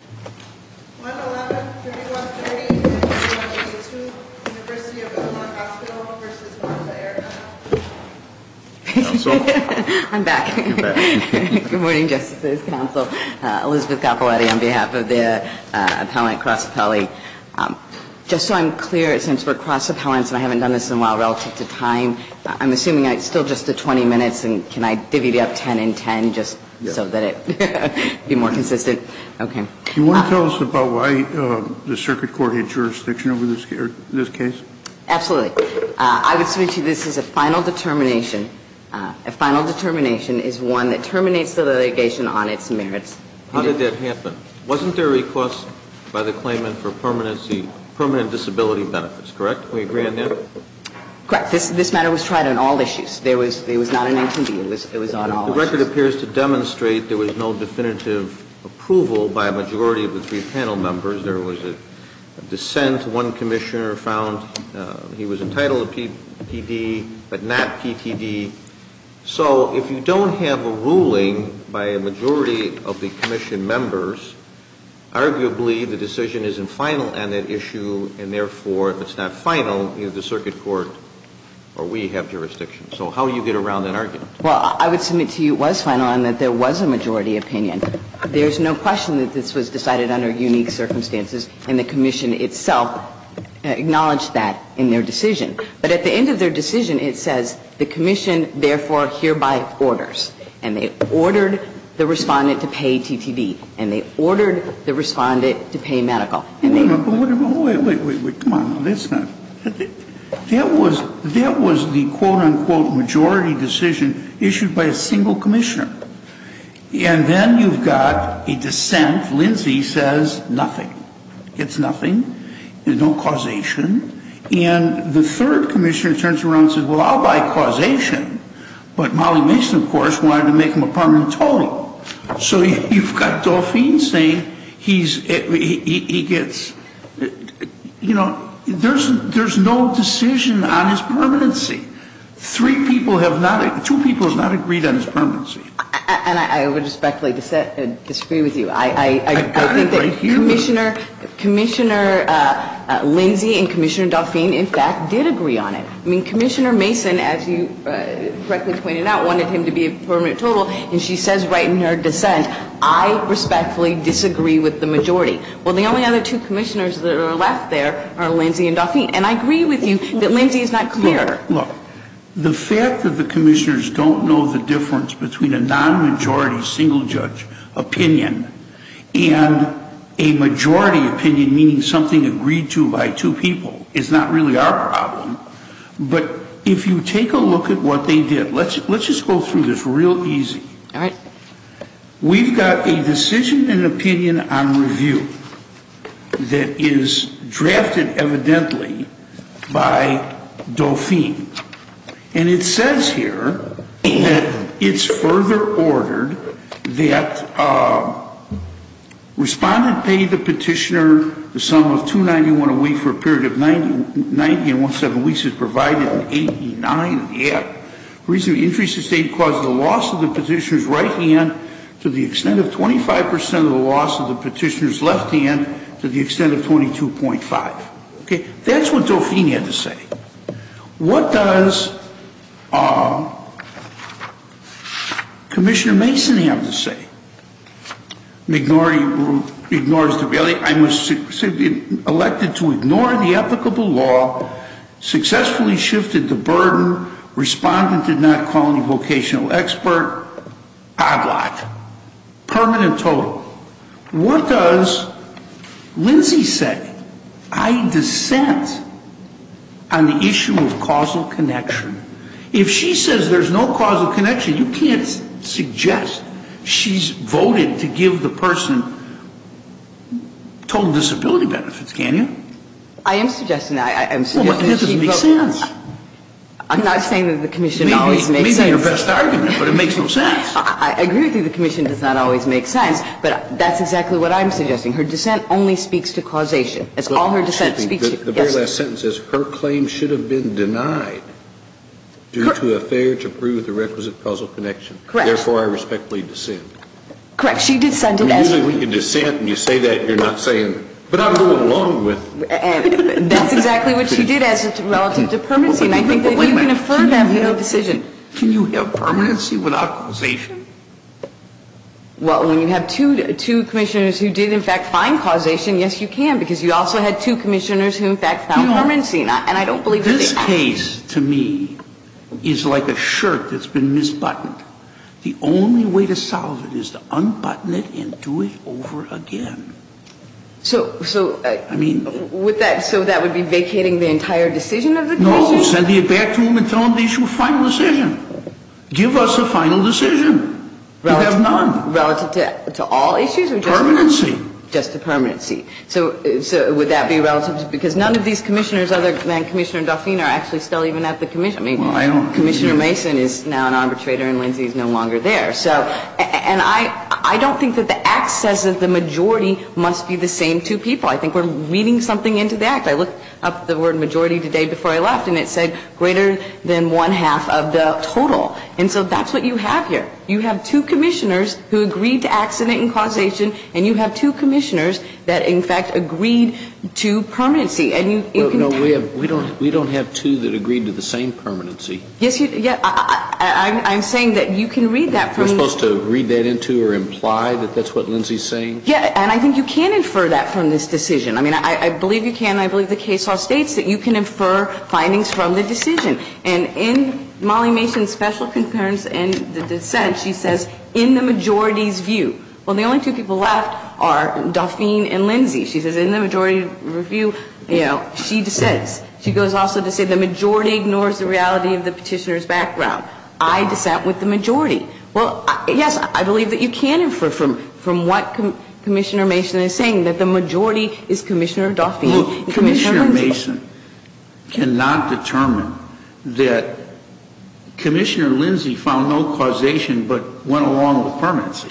111, 3130, and 1182, University of Illinois Hospital v. Bonta Aire Hospital. I'm back. Good morning, Justices, Counsel, Elizabeth Capiloutti on behalf of the appellant cross appellee. Just so I'm clear, since we're cross appellants and I haven't done this in a while relative to time, I'm assuming it's still just a 20 minutes, and can I divvy it up 10 in 10 just so that it would be more consistent? You want to tell us about why the circuit court had jurisdiction over this case? Absolutely. I would say to you this is a final determination. A final determination is one that terminates the litigation on its merits. How did that happen? Wasn't there a request by the claimant for permanent disability benefits, correct? Can we agree on that? Correct. This matter was tried on all issues. It was not an empty deal. It was on all issues. The record appears to demonstrate there was no definitive approval by a majority of the three panel members. There was a dissent. One commissioner found he was entitled to PD, but not PTD. So if you don't have a ruling by a majority of the commission members, arguably the decision isn't final on that issue, and therefore if it's not final, either the circuit court or we have jurisdiction. So how do you get around that argument? Well, I would submit to you it was final and that there was a majority opinion. There's no question that this was decided under unique circumstances, and the commission itself acknowledged that in their decision. But at the end of their decision, it says the commission therefore hereby orders, and they ordered the respondent to pay TTD, and they ordered the respondent to pay medical. Wait, wait, wait, come on, now, that's not. That was the quote-unquote majority decision issued by a single commissioner. And then you've got a dissent. Lindsay says nothing. It's nothing. There's no causation. And the third commissioner turns around and says, well, I'll buy causation. But Molly Mason, of course, wanted to make him a permanent total. So you've got Dauphine saying he gets, you know, there's no decision on his permanency. Three people have not, two people have not agreed on his permanency. And I would respectfully disagree with you. I got it right here. Commissioner Lindsay and Commissioner Dauphine, in fact, did agree on it. I mean, Commissioner Mason, as you correctly pointed out, wanted him to be a permanent total. And she says right in her dissent, I respectfully disagree with the majority. Well, the only other two commissioners that are left there are Lindsay and Dauphine. And I agree with you that Lindsay is not clear. Look, the fact that the commissioners don't know the difference between a non-majority single judge opinion and a majority opinion, meaning something agreed to by two people, is not really our problem. But if you take a look at what they did, let's just go through this real easy. We've got a decision and opinion on review that is drafted evidently by Dauphine. And it says here that it's further ordered that respondent pay the petitioner the sum of $291 a week for a period of 90 and one-seventh weeks as provided in 8E9 of the Act. The reason we interest the State is because of the loss of the petitioner's right hand to the extent of 25 percent of the loss of the petitioner's left hand to the extent of 22.5. That's what Dauphine had to say. What does Commissioner Mason have to say? Ignores the value. I was elected to ignore the applicable law, successfully shifted the burden. Respondent did not call any vocational expert. I blocked. Permanent total. What does Lindsay say? I dissent on the issue of causal connection. If she says there's no causal connection, you can't suggest she's voted to give the person total disability benefits, can you? I am suggesting that. I'm not saying that the commission always makes sense. Maybe your best argument, but it makes no sense. I agree with you the commission does not always make sense, but that's exactly what I'm suggesting. Her dissent only speaks to causation. Her claim should have been denied due to a failure to prove the requisite causal connection. Therefore, I respectfully dissent. Usually when you dissent and you say that, you're not saying, but I'm going along with it. That's exactly what she did relative to permanency. Can you have permanency without causation? Well, when you have two commissioners who did, in fact, find causation, yes, you can. Because you also had two commissioners who, in fact, found permanency. This case to me is like a shirt that's been misbuttoned. The only way to solve it is to unbutton it and do it over again. So that would be vacating the entire decision of the commission? No, send it back to them and tell them to issue a final decision. Give us a final decision. You have none. Relative to all issues? Permanency. Just to permanency. So would that be relative? Because none of these commissioners other than Commissioner Dauphine are actually still even at the commission. I mean, Commissioner Mason is now an arbitrator and Lindsay is no longer there. And I don't think that the Act says that the majority must be the same two people. I think we're reading something into the Act. I looked up the word majority today before I left and it said greater than one-half of the total. And so that's what you have here. You have two commissioners who agreed to accident and causation and you have two commissioners that, in fact, agreed to permanency. No, we don't have two that agreed to the same permanency. Yes, I'm saying that you can read that from the act. Am I supposed to read that into or imply that that's what Lindsay is saying? Yes, and I think you can infer that from this decision. I mean, I believe you can. I believe the case law states that you can infer findings from the decision. And in Molly Mason's special concerns and the dissent, she says in the majority's view. Well, the only two people left are Dauphine and Lindsay. She says in the majority review, you know, she dissents. She goes also to say the majority ignores the reality of the petitioner's background. I dissent with the majority. Well, yes, I believe that you can infer from what Commissioner Mason is saying, that the majority is Commissioner Dauphine and Commissioner Lindsay. I disagree with that. I mean, I think that Molly Mason cannot determine that Commissioner Lindsay found no causation but went along with permanency.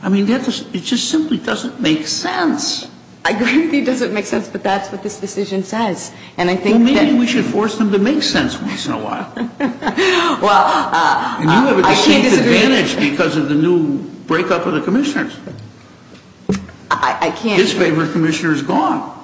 I mean, it just simply doesn't make sense. I agree with you. It doesn't make sense. But that's what this decision says. And I think that we should force them to make sense once in a while. And you have a distinct advantage because of the new break-up of the commissioners. His favorite commissioner is gone.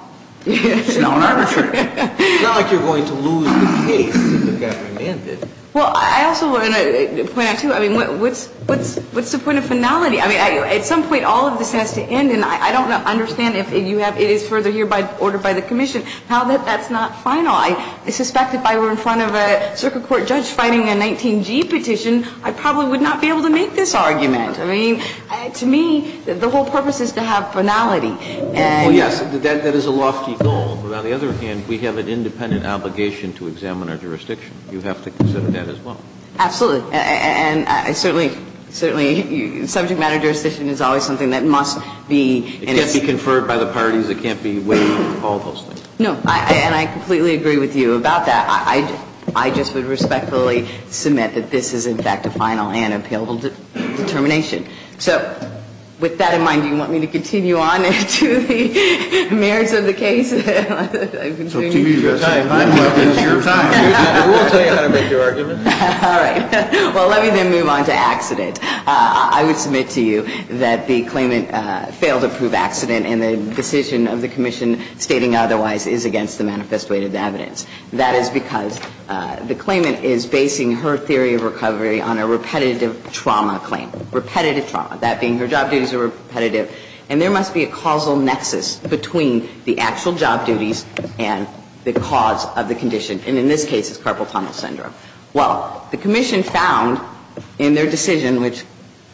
It's now an arbitrator. It's not like you're going to lose the case if it got remanded. Well, I also want to point out, too, I mean, what's the point of finality? I mean, at some point, all of this has to end, and I don't understand if it is further hereby ordered by the commission. Now that that's not final, I suspect if I were in front of a circuit court judge fighting a 19G petition, I probably would not be able to make this argument. I mean, to me, the whole purpose is to have finality. And yes, that is a lofty goal. But on the other hand, we have an independent obligation to examine our jurisdiction. You have to consider that as well. Absolutely. And certainly, subject matter jurisdiction is always something that must be in its It can't be conferred by the parties. It can't be waived. All those things. And I completely agree with you about that. I just would respectfully submit that this is, in fact, a final and appealable determination. So with that in mind, do you want me to continue on to the merits of the case? I've been doing this for a long time. I'm going to finish your time. We'll tell you how to make your argument. All right. Well, let me then move on to accident. I would submit to you that the claimant failed to prove accident, and the decision of the commission stating otherwise is against the manifest weight of the evidence. That is because the claimant is basing her theory of recovery on a repetitive trauma claim. Repetitive trauma. That being her job duties are repetitive. And there must be a causal nexus between the actual job duties and the cause of the condition. And in this case, it's carpal tunnel syndrome. Well, the commission found in their decision, which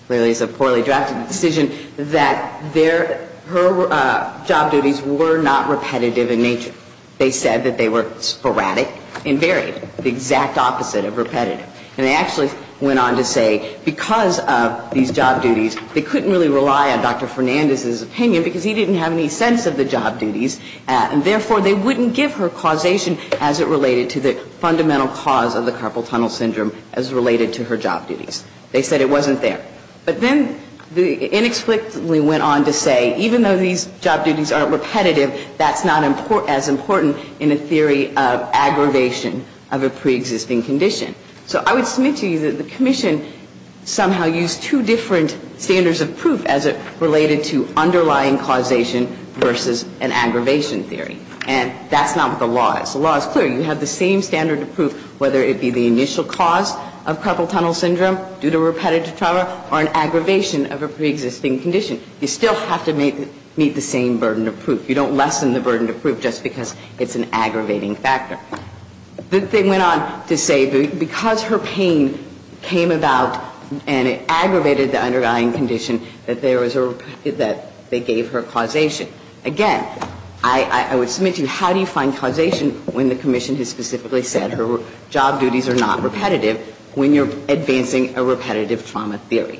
clearly is a poorly drafted decision, that her job duties were not repetitive in nature. They said that they were sporadic and varied. The exact opposite of repetitive. And they actually went on to say because of these job duties, they couldn't really rely on Dr. Fernandez's opinion because he didn't have any sense of the job duties, and therefore they wouldn't give her causation as it related to the fundamental cause of the carpal tunnel syndrome as related to her job duties. They said it wasn't there. But then they inexplicably went on to say even though these job duties aren't repetitive in nature, they're not as important in a theory of aggravation of a preexisting condition. So I would submit to you that the commission somehow used two different standards of proof as it related to underlying causation versus an aggravation theory. And that's not what the law is. The law is clear. You have the same standard of proof whether it be the initial cause of carpal tunnel syndrome due to repetitive trauma or an aggravation of a preexisting condition. You still have to meet the same burden of proof. You don't lessen the burden of proof just because it's an aggravating factor. They went on to say because her pain came about and it aggravated the underlying condition, that there was a, that they gave her causation. Again, I would submit to you how do you find causation when the commission has specifically said her job duties are not repetitive when you're advancing a repetitive trauma theory.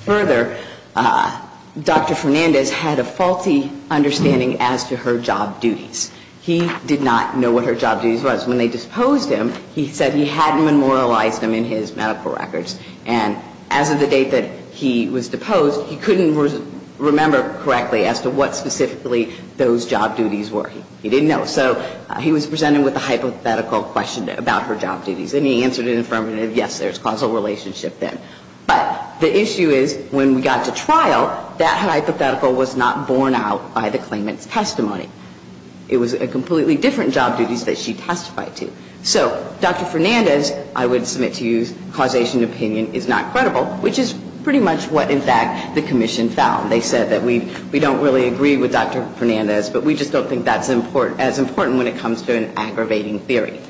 Further, Dr. Fernandez had a faulty understanding as to her job duties. He did not know what her job duties was. When they disposed him, he said he hadn't memorialized them in his medical records. And as of the date that he was deposed, he couldn't remember correctly as to what specifically those job duties were. He didn't know. So he was presented with a hypothetical question about her job duties. And he answered it affirmatively, yes, there's causal relationship then. But the issue is when we got to trial, that hypothetical was not borne out by the claimant's testimony. It was a completely different job duties that she testified to. So Dr. Fernandez, I would submit to you, causation opinion is not credible, which is pretty much what, in fact, the commission found. They said that we don't really agree with Dr. Fernandez, but we just don't think that's as important when it comes to an aggravating theory.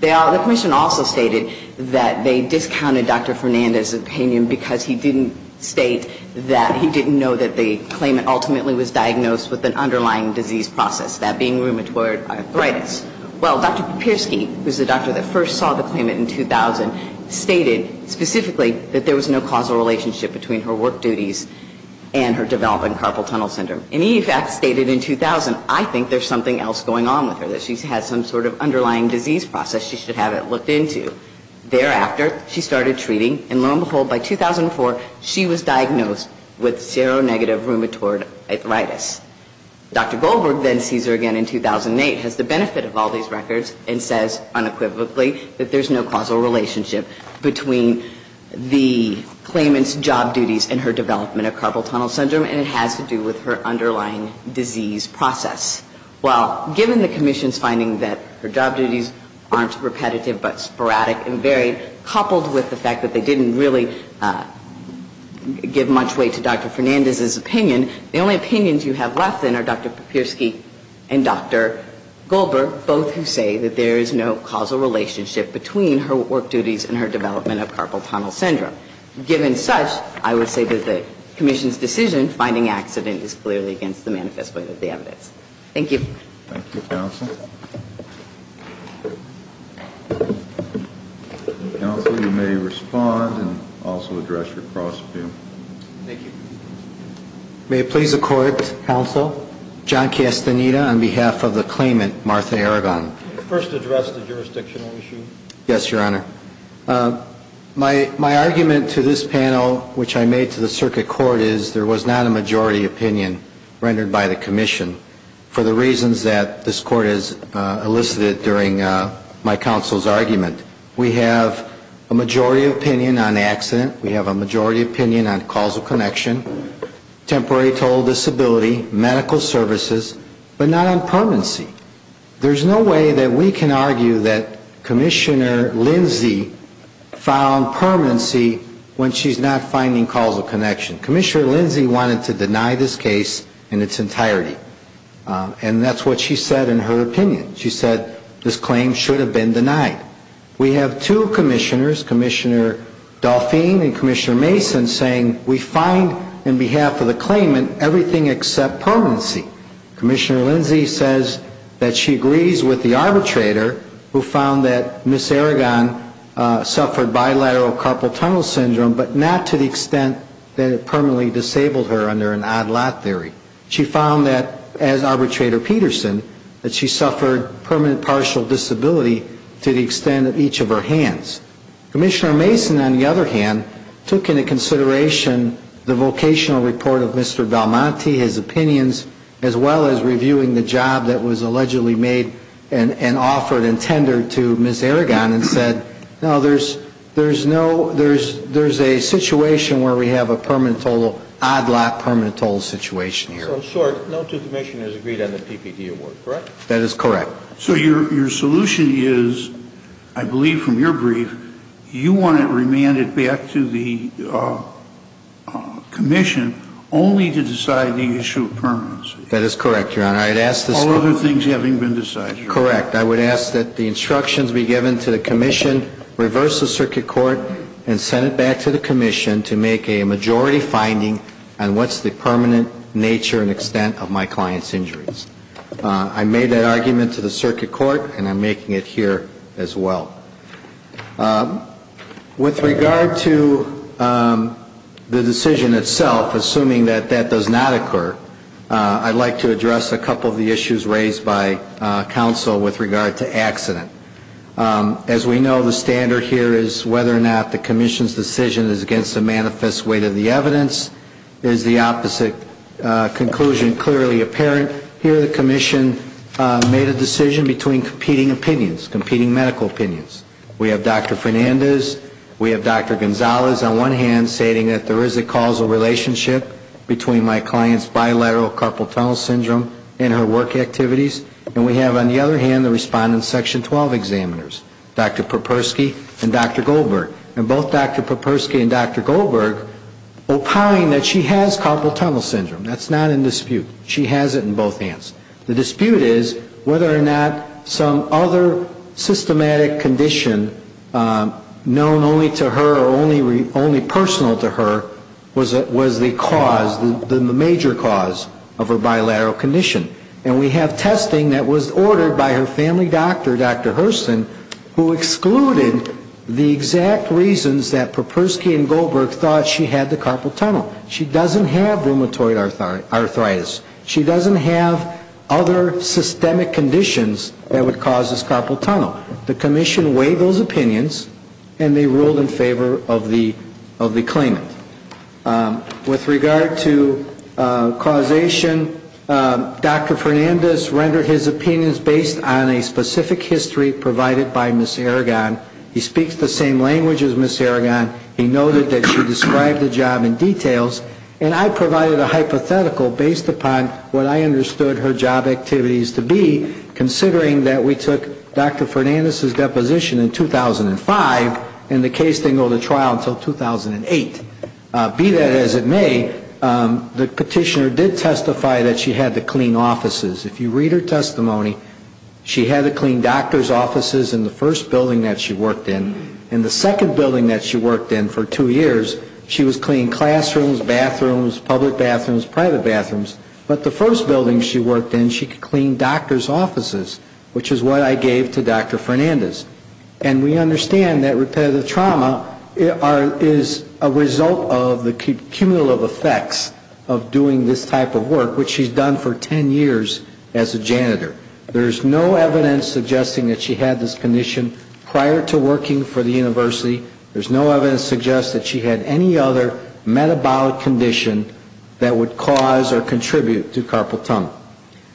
The commission also stated that they discounted Dr. Fernandez's opinion because he didn't state that he didn't know that the claimant ultimately was diagnosed with an underlying disease process, that being rheumatoid arthritis. Well, Dr. Papirsky, who's the doctor that first saw the claimant in 2000, stated specifically that there was no causal relationship between her work duties and her developing carpal tunnel syndrome. And he, in fact, stated in 2000, I think there's something else going on with her, that she's had some sort of underlying disease process she should have it looked into. Thereafter, she started treating, and lo and behold, by 2004, she was diagnosed with seronegative rheumatoid arthritis. Dr. Goldberg then sees her again in 2008, has the benefit of all these records, and says unequivocally that there's no causal relationship between the claimant's job duties and her development of carpal tunnel syndrome, and it has to do with her underlying disease process. Well, given the commission's finding that her job duties aren't repetitive but sporadic and varied, coupled with the fact that they didn't really give much weight to Dr. Fernandez's opinion, the only opinions you have left then are Dr. Papirsky and Dr. Goldberg, both who say that there is no causal relationship between her work duties and her development of carpal tunnel syndrome. Given such, I would say that the commission's decision finding accident is clearly against the manifest way of the evidence. Thank you. Thank you, Counsel. Counsel, you may respond and also address your cross-view. Thank you. May it please the Court, Counsel, John Castaneda on behalf of the claimant, Martha Aragon. First address the jurisdictional issue. Yes, Your Honor. My argument to this panel, which I made to the circuit court, is there was not a majority opinion for the reasons that this Court has elicited during my counsel's argument. We have a majority opinion on accident. We have a majority opinion on causal connection, temporary total disability, medical services, but not on permanency. There's no way that we can argue that Commissioner Lindsay found permanency when she's not finding causal connection. Commissioner Lindsay wanted to deny this case in its entirety, and that's what she said in her opinion. She said this claim should have been denied. We have two commissioners, Commissioner Dauphine and Commissioner Mason, saying we find in behalf of the claimant everything except permanency. Commissioner Lindsay says that she agrees with the arbitrator who found that Miss Aragon suffered bilateral carpal tunnel syndrome, but not to the extent that it permanently disabled her under an odd lot theory. She found that, as arbitrator Peterson, that she suffered permanent partial disability to the extent of each of her hands. Commissioner Mason, on the other hand, took into consideration the vocational report of Mr. Belmonte, his opinions, as well as reviewing the job that was allegedly made and offered and tendered to Miss Aragon and said, no, there's no permanent total. So there's a situation where we have a permanent total, odd lot permanent total situation here. So in short, no two commissioners agreed on the PPD award, correct? That is correct. So your solution is, I believe from your brief, you want it remanded back to the commission only to decide the issue of permanency. That is correct, Your Honor. All other things having been decided. Correct. I would ask that the instructions be given to the commission, reverse the circuit court, and send it back to the commission to make a majority finding on what's the permanent nature and extent of my client's injuries. I made that argument to the circuit court, and I'm making it here as well. With regard to the decision itself, assuming that that does not occur, I'd like to make that argument in regard to accident. As we know, the standard here is whether or not the commission's decision is against the manifest weight of the evidence is the opposite conclusion clearly apparent. Here the commission made a decision between competing opinions, competing medical opinions. We have Dr. Fernandez. We have Dr. Gonzalez on one hand stating that there is a causal relationship between my client's bilateral carpal tunnel syndrome and her work activities. And we have on the other hand the respondent's Section 12 examiners, Dr. Popersky and Dr. Goldberg. And both Dr. Popersky and Dr. Goldberg opine that she has carpal tunnel syndrome. That's not in dispute. She has it in both hands. The dispute is whether or not some other systematic condition known only to her or only personal to her was the cause, the major cause of her bilateral condition. And we have testing that was ordered by her family doctor, Dr. Hurston, who excluded the exact reasons that Popersky and Goldberg thought she had the carpal tunnel. She doesn't have rheumatoid arthritis. She doesn't have other systemic conditions that would cause this carpal tunnel. The commission weighed those opinions and they ruled in favor of the claimant. With regard to causation, Dr. Fernandez rendered his opinions based on a specific history provided by Ms. Aragon. He speaks the same language as Ms. Aragon. He noted that she described the job in details. And I provided a hypothetical based upon what I understood her job activities to be, considering that we took Dr. Fernandez's deposition in 2005 and the case didn't go to trial until 2008. Be that as it may, the petitioner did testify that she had to clean offices. If you read her testimony, she had to clean doctors' offices in the first building that she worked in. In the second building that she worked in for two years, she was cleaning classrooms, bathrooms, public bathrooms, private bathrooms. But the first building she worked in, she cleaned doctors' offices, which is what I gave to Dr. Fernandez. And we understand that repetitive trauma is a result of the cumulative effects of doing this type of work, which she's done for 10 years as a janitor. There's no evidence suggesting that she had this condition prior to working for the university. There's no evidence to suggest that she had any other metabolic condition that would cause or contribute to carpal tunnel.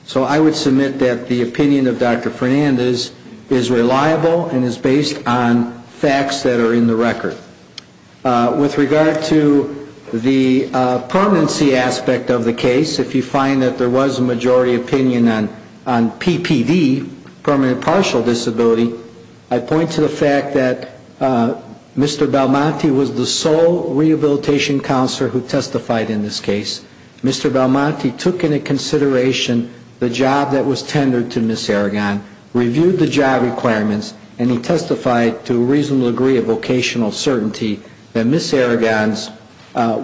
So I would submit that the opinion of Dr. Fernandez is reliable and is based on facts that are in the record. With regard to the permanency aspect of the case, if you find that there was a majority opinion on PPD, permanent partial disability, I point to the fact that Mr. Belmonte was the sole rehabilitation counselor who testified in this case. Mr. Belmonte took into consideration the job that was tendered to Ms. Aragon, reviewed the job requirements, and he testified to a reasonable degree of vocational certainty that Ms. Aragon's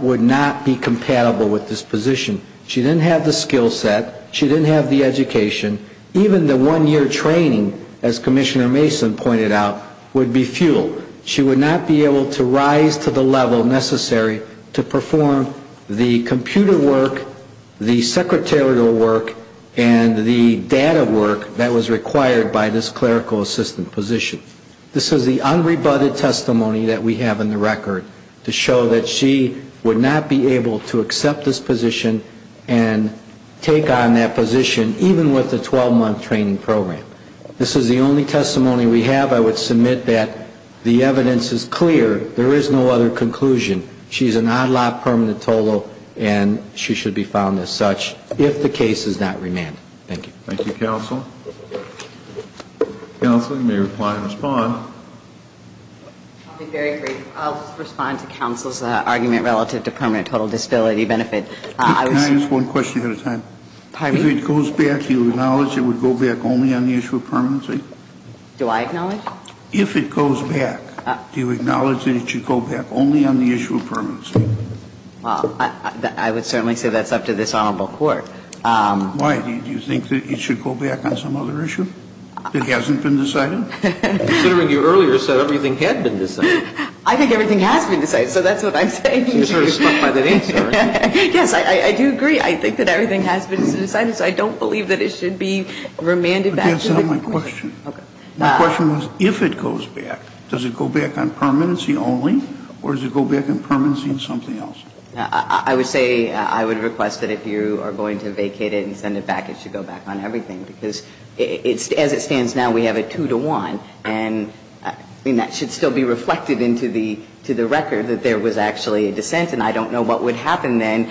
would not be compatible with this position. She didn't have the skill set. She didn't have the education. Even the one-year training, as Commissioner Mason pointed out, would be futile. She would not be able to rise to the level necessary to perform the computer work, the secretarial work, and the data work that was required by this clerical assistant position. This is the unrebutted testimony that we have in the record to show that she would not be able to accept this position and take on that position even with a 12-month training program. This is the only testimony we have. I would submit that the evidence is clear. There is no other conclusion. She's an ad la permanent total, and she should be found as such if the case is not remanded. Thank you. Thank you, counsel. Counsel, you may reply and respond. I'll be very brief. I'll respond to counsel's argument relative to permanent total disability benefit. Can I ask one question at a time? Pardon me? If it goes back, do you acknowledge it would go back only on the issue of permanency? Do I acknowledge? If it goes back, do you acknowledge that it should go back only on the issue of permanency? Well, I would certainly say that's up to this Honorable Court. Why? Do you think that it should go back on some other issue that hasn't been decided? Considering you earlier said everything had been decided. I think everything has been decided, so that's what I'm saying. Yes, I do agree. I think that everything has been decided, so I don't believe that it should be remanded back to the court. But that's not my question. My question was if it goes back, does it go back on permanency only, or does it go back on permanency on something else? I would say I would request that if you are going to vacate it and send it back, it should go back on everything, because as it stands now, we have a 2 to 1, and that should still be reflected into the record that there was actually a dissent, and I don't know what would happen then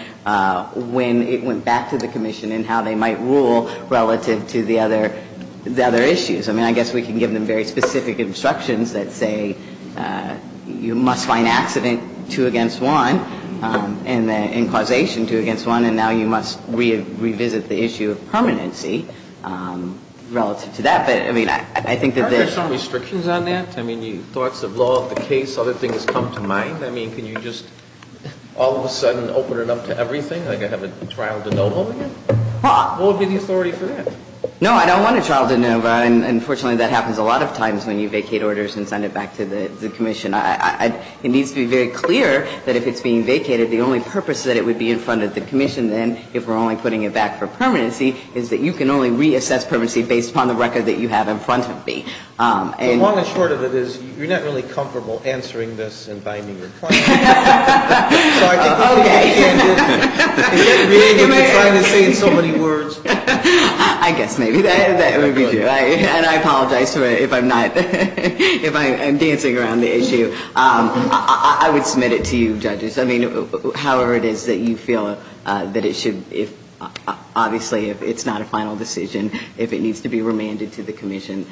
when it went back to the Commission and how they might rule relative to the other issues. I mean, I guess we can give them very specific instructions that say you must find accident 2 against 1 and causation 2 against 1, and now you must revisit the issue of permanency relative to that. But, I mean, I think that the — Aren't there some restrictions on that? I mean, thoughts of law, the case, other things come to mind. I mean, can you just all of a sudden open it up to everything, like I have a trial de novo again? What would be the authority for that? No, I don't want a trial de novo. Unfortunately, that happens a lot of times when you vacate orders and send it back to the Commission. It needs to be very clear that if it's being vacated, the only purpose that it would be in front of the Commission then, if we're only putting it back for permanency, is that you can only reassess permanency based upon the record that you have in front of me. The long and short of it is you're not really comfortable answering this and binding your client. Okay. Is that a behavior you're trying to say in so many words? I guess maybe that would be true. And I apologize if I'm not — if I'm dancing around the issue. I would submit it to you, Judges. I mean, however it is that you feel that it should — obviously, if it's not a final decision, if it needs to be remanded to the Commission,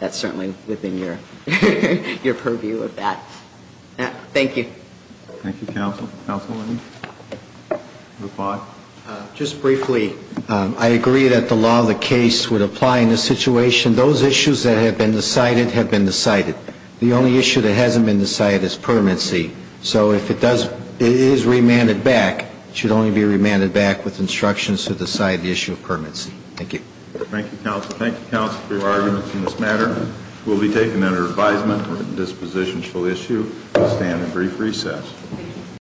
that's certainly within your purview of that. Thank you. Thank you, Counsel. Counsel, any — Just briefly, I agree that the law of the case would apply in this situation. Those issues that have been decided have been decided. The only issue that hasn't been decided is permanency. So if it does — it is remanded back, it should only be remanded back with instructions to decide the issue of permanency. Thank you. Thank you, Counsel. Thank you, Counsel, for your arguments in this matter. It will be taken under advisement that this position shall issue and stand in brief recess.